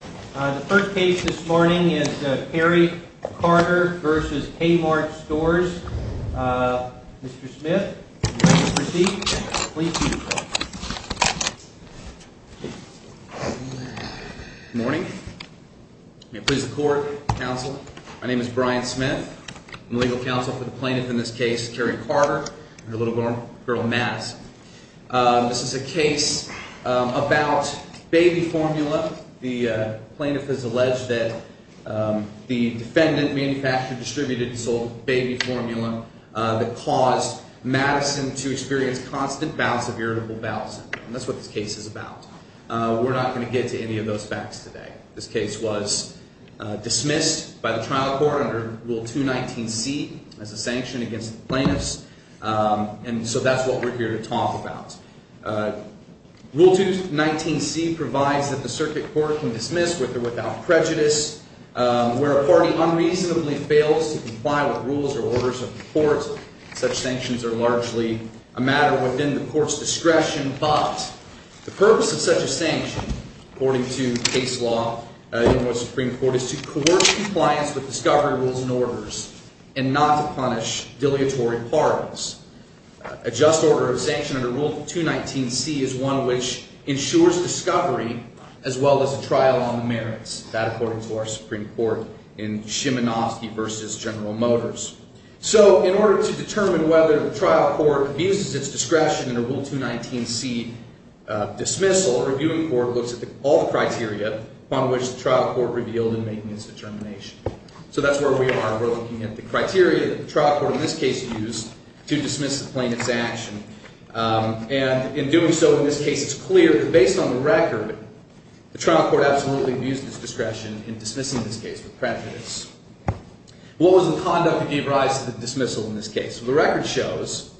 The first case this morning is Kerry Carter v. Kmart Stores. Mr. Smith, if you'd like to proceed, please do so. Good morning. May it please the Court, Counsel. My name is Brian Smith. I'm the legal counsel for the plaintiff in this case, Kerry Carter, and her little girl, Mads. This is a case about baby formula. The plaintiff has alleged that the defendant manufactured, distributed, and sold baby formula that caused Madison to experience constant bouts of irritable bowel syndrome. That's what this case is about. We're not going to get to any of those facts today. This case was dismissed by the trial court under Rule 219C as a sanction against the plaintiffs, and so that's what we're here to talk about. Rule 219C provides that the circuit court can dismiss with or without prejudice. Where a party unreasonably fails to comply with rules or orders of the court, such sanctions are largely a matter within the court's discretion. But the purpose of such a sanction, according to case law in the U.S. Supreme Court, is to coerce compliance with discovery rules and orders and not to punish deliatory parties. A just order of sanction under Rule 219C is one which ensures discovery as well as a trial on the merits, that according to our Supreme Court in Szymanowski v. General Motors. So in order to determine whether the trial court abuses its discretion in a Rule 219C dismissal, a reviewing court looks at all the criteria upon which the trial court revealed in making its determination. So that's where we are. We're looking at the criteria that the trial court in this case used to dismiss the plaintiff's action. And in doing so in this case, it's clear that based on the record, the trial court absolutely abused its discretion in dismissing this case with prejudice. What was the conduct that gave rise to the dismissal in this case? Well, the record shows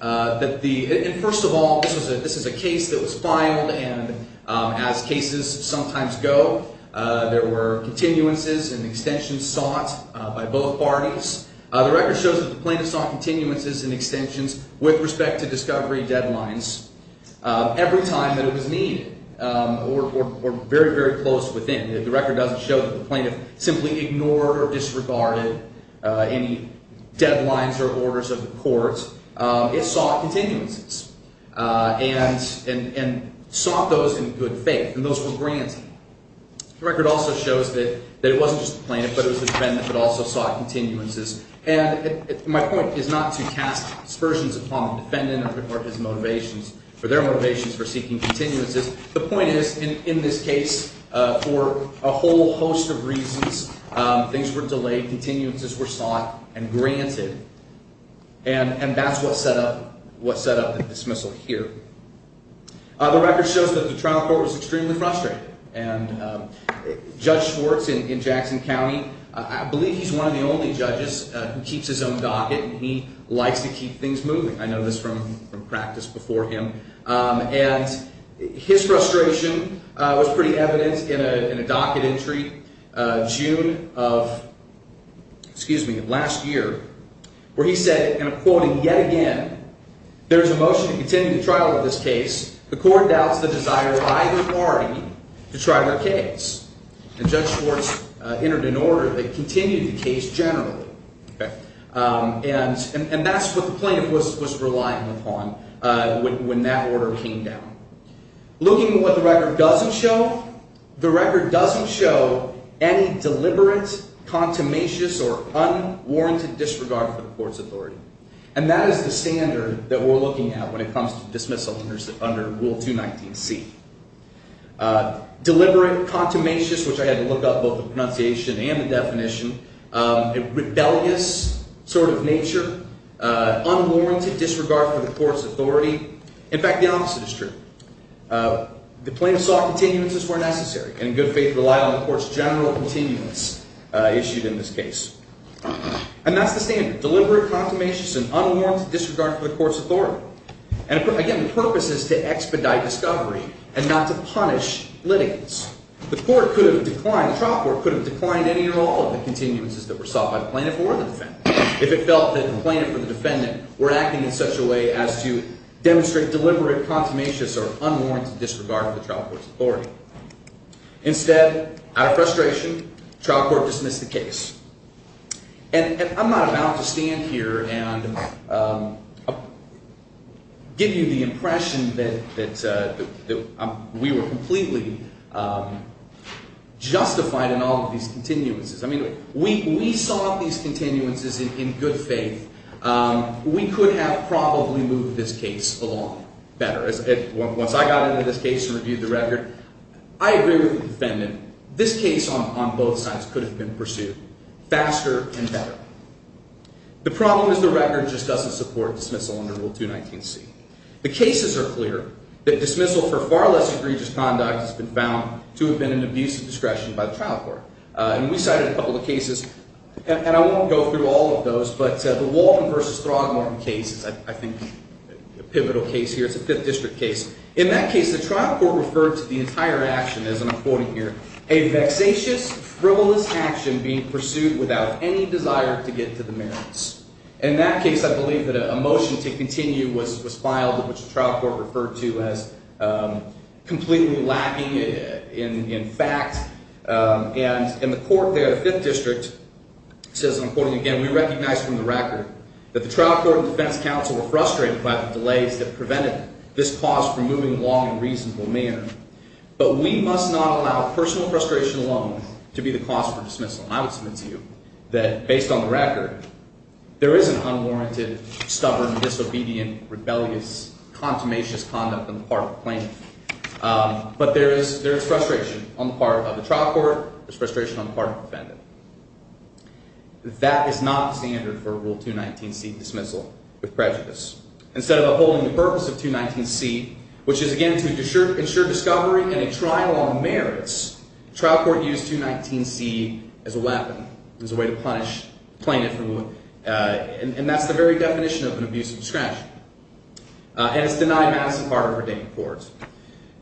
that the – and first of all, this is a case that was filed, and as cases sometimes go, there were continuances and extensions sought by both parties. The record shows that the plaintiff sought continuances and extensions with respect to discovery deadlines every time that it was needed or very, very close within. The record doesn't show that the plaintiff simply ignored or disregarded any deadlines or orders of the court. It sought continuances and sought those in good faith, and those were granted. The record also shows that it wasn't just the plaintiff, but it was the defendant that also sought continuances. And my point is not to cast aspersions upon the defendant or his motivations – or their motivations for seeking continuances. The point is, in this case, for a whole host of reasons, things were delayed, continuances were sought and granted, and that's what set up – what set up the dismissal here. The record shows that the trial court was extremely frustrated, and Judge Schwartz in Jackson County – I believe he's one of the only judges who keeps his own docket, and he likes to keep things moving. I know this from practice before him. And his frustration was pretty evident in a docket entry June of – excuse me – last year where he said, and I'm quoting yet again, there's a motion to continue the trial of this case. The court doubts the desire by the party to trial the case. And Judge Schwartz entered an order that continued the case generally. And that's what the plaintiff was reliant upon when that order came down. Looking at what the record doesn't show, the record doesn't show any deliberate, contumacious, or unwarranted disregard for the court's authority. And that is the standard that we're looking at when it comes to dismissal under Rule 219C. Deliberate, contumacious, which I had to look up both the pronunciation and the definition, a rebellious sort of nature, unwarranted disregard for the court's authority. In fact, the opposite is true. The plaintiff sought continuances where necessary, and in good faith relied on the court's general continuance issued in this case. And that's the standard, deliberate, contumacious, and unwarranted disregard for the court's authority. And again, the purpose is to expedite discovery and not to punish litigants. The court could have declined – the trial court could have declined any or all of the continuances that were sought by the plaintiff or the defendant if it felt that the plaintiff or the defendant were acting in such a way as to demonstrate deliberate, contumacious, or unwarranted disregard for the trial court's authority. Instead, out of frustration, the trial court dismissed the case. And I'm not about to stand here and give you the impression that we were completely justified in all of these continuances. I mean, we sought these continuances in good faith. We could have probably moved this case along better. Once I got into this case and reviewed the record, I agree with the defendant. This case on both sides could have been pursued faster and better. The problem is the record just doesn't support dismissal under Rule 219C. The cases are clear that dismissal for far less egregious conduct has been found to have been an abuse of discretion by the trial court. And we cited a couple of cases, and I won't go through all of those, but the Walton v. Throgmorton case is, I think, a pivotal case here. It's a Fifth District case. In that case, the trial court referred to the entire action as, and I'm quoting here, a vexatious, frivolous action being pursued without any desire to get to the merits. In that case, I believe that a motion to continue was filed, which the trial court referred to as completely lacking in fact. And in the court there, the Fifth District says, I'm quoting again, we recognize from the record that the trial court and defense counsel were frustrated by the delays that prevented this cause from moving along in a reasonable manner. But we must not allow personal frustration alone to be the cause for dismissal. And I would submit to you that based on the record, there is an unwarranted, stubborn, disobedient, rebellious, consummationist conduct on the part of the plaintiff. But there is frustration on the part of the trial court. There's frustration on the part of the defendant. That is not the standard for Rule 219C, dismissal with prejudice. Instead of upholding the purpose of 219C, which is, again, to ensure discovery and a trial on merits, trial court used 219C as a weapon, as a way to punish the plaintiff. And that's the very definition of an abuse of discretion. And it's denied massive part of redating courts.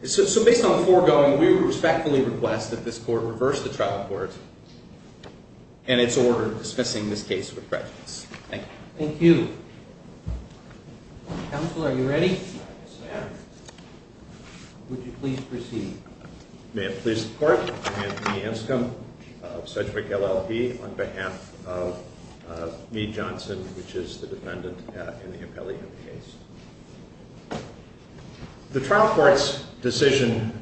So based on the foregoing, we would respectfully request that this court reverse the trial court and its order dismissing this case with prejudice. Thank you. Thank you. Counsel, are you ready? Yes, ma'am. Would you please proceed? Ma'am, please support Anthony Anscombe of Sedgwick LLP on behalf of Meade Johnson, which is the defendant in the appellee in the case. The trial court's decision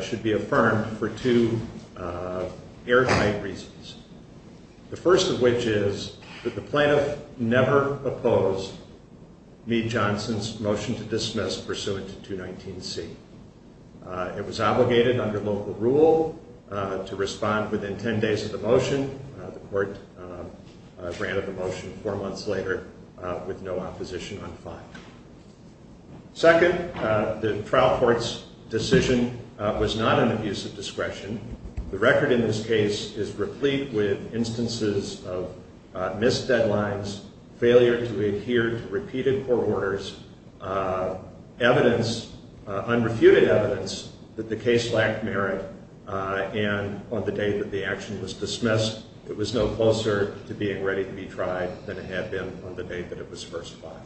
should be affirmed for two airtight reasons. The first of which is that the plaintiff never opposed Meade Johnson's motion to dismiss pursuant to 219C. It was obligated under local rule to respond within 10 days of the motion. The court granted the motion four months later with no opposition on the fine. Second, the trial court's decision was not an abuse of discretion. The record in this case is replete with instances of missed deadlines, failure to adhere to repeated court orders, evidence, unrefuted evidence that the case lacked merit, and on the day that the action was dismissed, it was no closer to being ready to be tried than it had been on the day that it was first filed.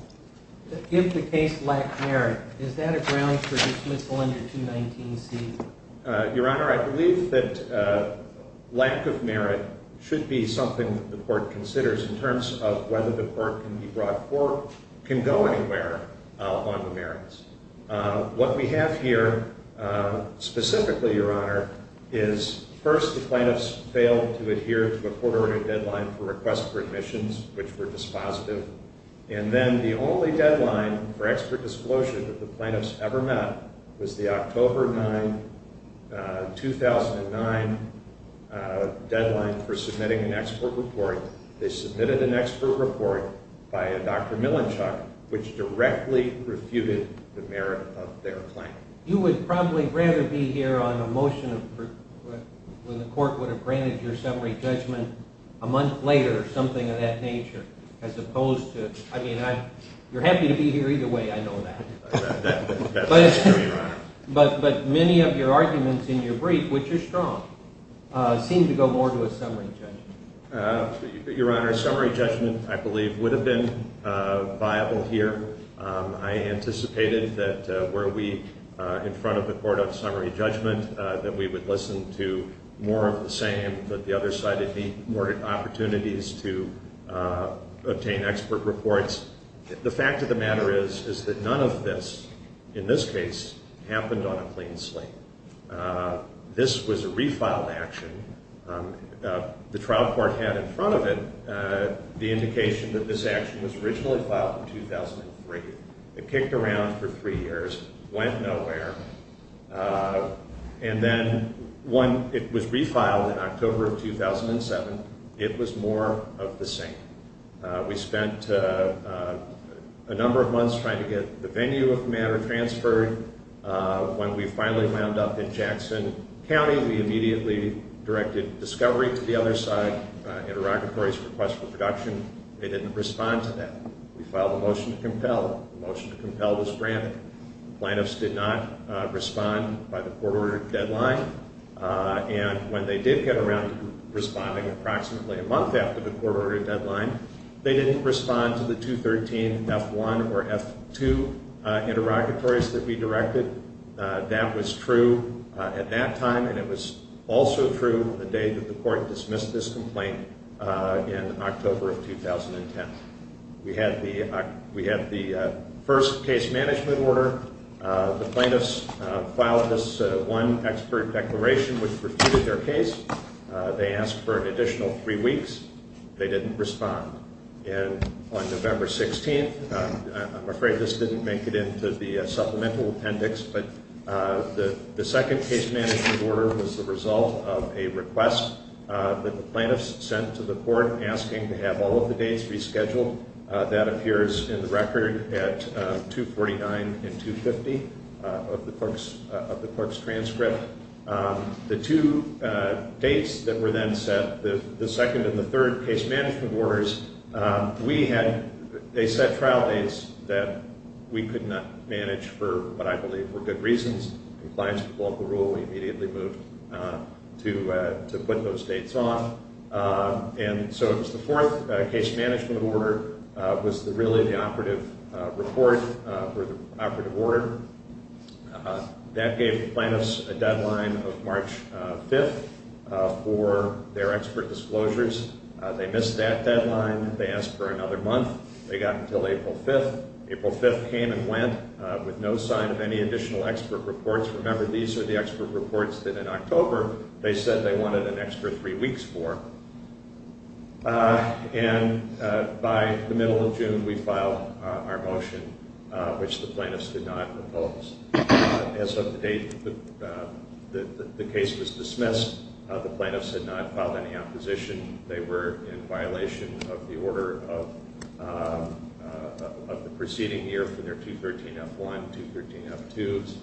If the case lacked merit, is that a ground for dismissal under 219C? Your Honor, I believe that lack of merit should be something that the court considers in terms of whether the court can go anywhere on the merits. What we have here, specifically, Your Honor, is first the plaintiffs failed to adhere to a court-ordered deadline for request for admissions, which were dispositive, and then the only deadline for expert disclosure that the plaintiffs ever met was the October 9, 2009, deadline for submitting an expert report. They submitted an expert report by Dr. Millinchuk, which directly refuted the merit of their claim. You would probably rather be here on a motion when the court would have granted your summary judgment a month later or something of that nature, as opposed to, I mean, you're happy to be here either way, I know that. That's true, Your Honor. But many of your arguments in your brief, which are strong, seem to go more to a summary judgment. Your Honor, a summary judgment, I believe, would have been viable here. I anticipated that where we, in front of the court of summary judgment, that we would listen to more of the same, but the other side would need more opportunities to obtain expert reports. The fact of the matter is, is that none of this, in this case, happened on a clean slate. This was a refiled action. The trial court had in front of it the indication that this action was originally filed in 2003. It kicked around for three years, went nowhere, and then when it was refiled in October of 2007, it was more of the same. We spent a number of months trying to get the venue of the matter transferred. When we finally wound up in Jackson County, we immediately directed discovery to the other side, interrogatories, requests for production. They didn't respond to that. We filed a motion to compel. The motion to compel was granted. Plaintiffs did not respond by the court-ordered deadline. And when they did get around to responding approximately a month after the court-ordered deadline, they didn't respond to the 213-F1 or F2 interrogatories that we directed. That was true at that time, and it was also true the day that the court dismissed this complaint in October of 2010. We had the first case management order. The plaintiffs filed this one expert declaration which refuted their case. They asked for an additional three weeks. They didn't respond. And on November 16th, I'm afraid this didn't make it into the supplemental appendix, but the second case management order was the result of a request that the plaintiffs sent to the court asking to have all of the dates rescheduled. That appears in the record at 249 and 250 of the clerk's transcript. The two dates that were then set, the second and the third case management orders, they set trial dates that we could not manage for what I believe were good reasons. Compliance with local rule, we immediately moved to put those dates off. And so it was the fourth case management order was really the operative report for the operative order. That gave the plaintiffs a deadline of March 5th for their expert disclosures. They missed that deadline. They asked for another month. They got until April 5th. April 5th came and went with no sign of any additional expert reports. Remember, these are the expert reports that in October they said they wanted an extra three weeks for. And by the middle of June, we filed our motion, which the plaintiffs did not oppose. As of the date that the case was dismissed, the plaintiffs had not filed any opposition. They were in violation of the order of the preceding year for their 213-F1, 213-F2s,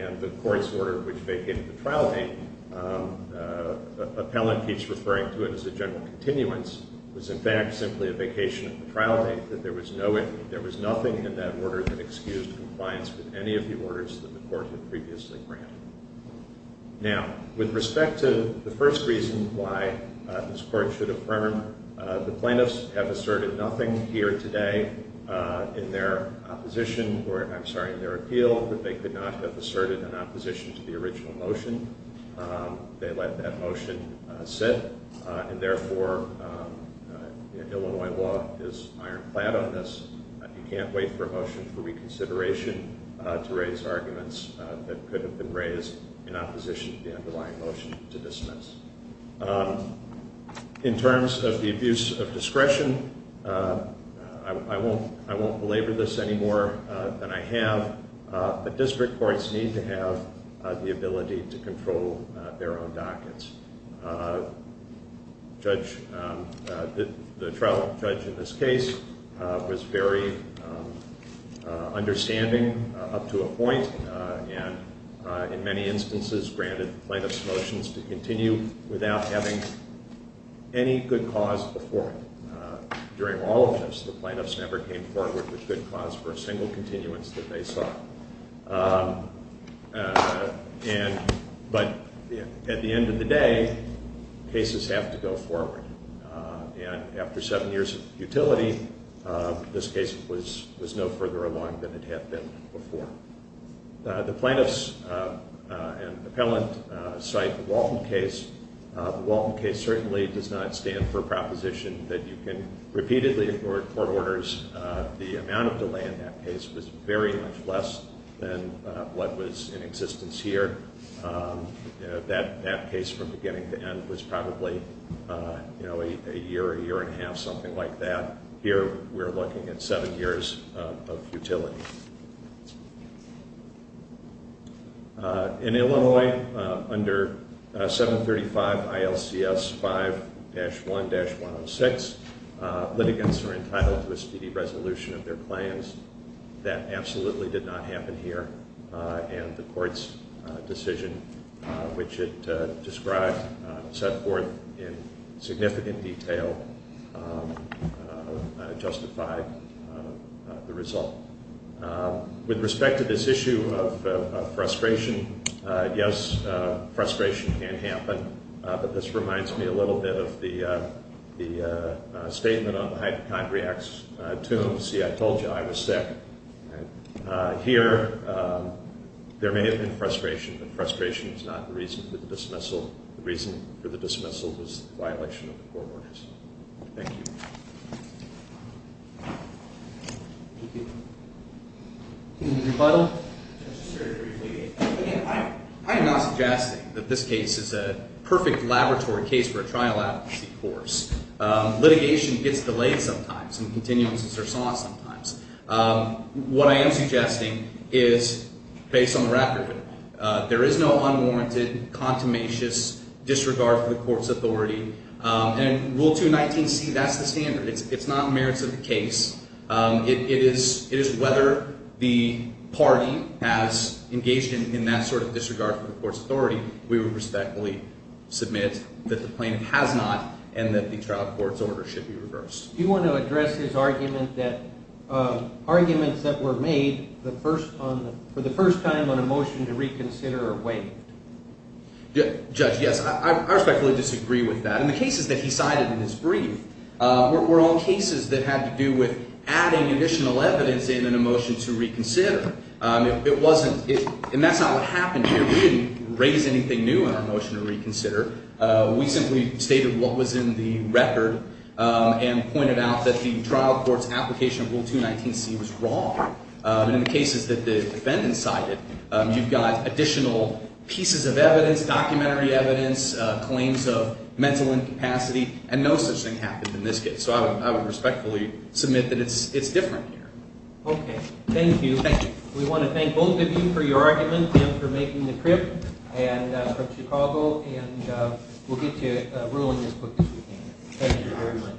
and the court's order which vacated the trial date. Appellant keeps referring to it as a general continuance. It was, in fact, simply a vacation of the trial date. There was nothing in that order that excused compliance with any of the orders that the court had previously granted. Now, with respect to the first reason why this court should affirm, the plaintiffs have asserted nothing here today in their appeal that they could not have asserted in opposition to the original motion. They let that motion sit, and therefore Illinois law is ironclad on this. You can't wait for a motion for reconsideration to raise arguments that could have been raised in opposition to the underlying motion to dismiss. In terms of the abuse of discretion, I won't belabor this any more than I have, but district courts need to have the ability to control their own dockets. The trial judge in this case was very understanding up to a point and in many instances granted the plaintiff's motions to continue without having any good cause before. During all of this, the plaintiffs never came forward with good cause for a single continuance that they saw. But at the end of the day, cases have to go forward, and after seven years of futility, this case was no further along than it had been before. The plaintiffs and the appellant cite the Walton case. The Walton case certainly does not stand for a proposition that you can repeatedly ignore court orders. The amount of delay in that case was very much less than what was in existence here. That case from beginning to end was probably a year, a year and a half, something like that. Here we're looking at seven years of futility. In Illinois, under 735 ILCS 5-1-106, litigants are entitled to a speedy resolution of their claims. That absolutely did not happen here, and the court's decision, which it described and set forth in significant detail, justified the result. With respect to this issue of frustration, yes, frustration can happen, but this reminds me a little bit of the statement on the hypochondriac's tomb, see, I told you I was sick. Here, there may have been frustration, but frustration is not the reason for the dismissal. The reason for the dismissal was the violation of the court orders. Thank you. Any rebuttal? I am not suggesting that this case is a perfect laboratory case for a trial advocacy course. Litigation gets delayed sometimes, and continuances are sought sometimes. What I am suggesting is, based on the record, there is no unwarranted, contumacious disregard for the court's authority, and Rule 219C, that's the standard. It's not merits of the case. It is whether the party has engaged in that sort of disregard for the court's authority. We would respectfully submit that the plaintiff has not, and that the trial court's order should be reversed. Do you want to address his argument that arguments that were made for the first time on a motion to reconsider are waived? Judge, yes, I respectfully disagree with that. The cases that he cited in his brief were all cases that had to do with adding additional evidence in a motion to reconsider. It wasn't, and that's not what happened here. We didn't raise anything new in our motion to reconsider. We simply stated what was in the record and pointed out that the trial court's application of Rule 219C was wrong. In the cases that the defendant cited, you've got additional pieces of evidence, documentary evidence, claims of mental incapacity, and no such thing happened in this case. So I would respectfully submit that it's different here. Okay. Thank you. Thank you. We want to thank both of you for your argument and for making the trip from Chicago, and we'll get to ruling as quick as we can. Thank you very much.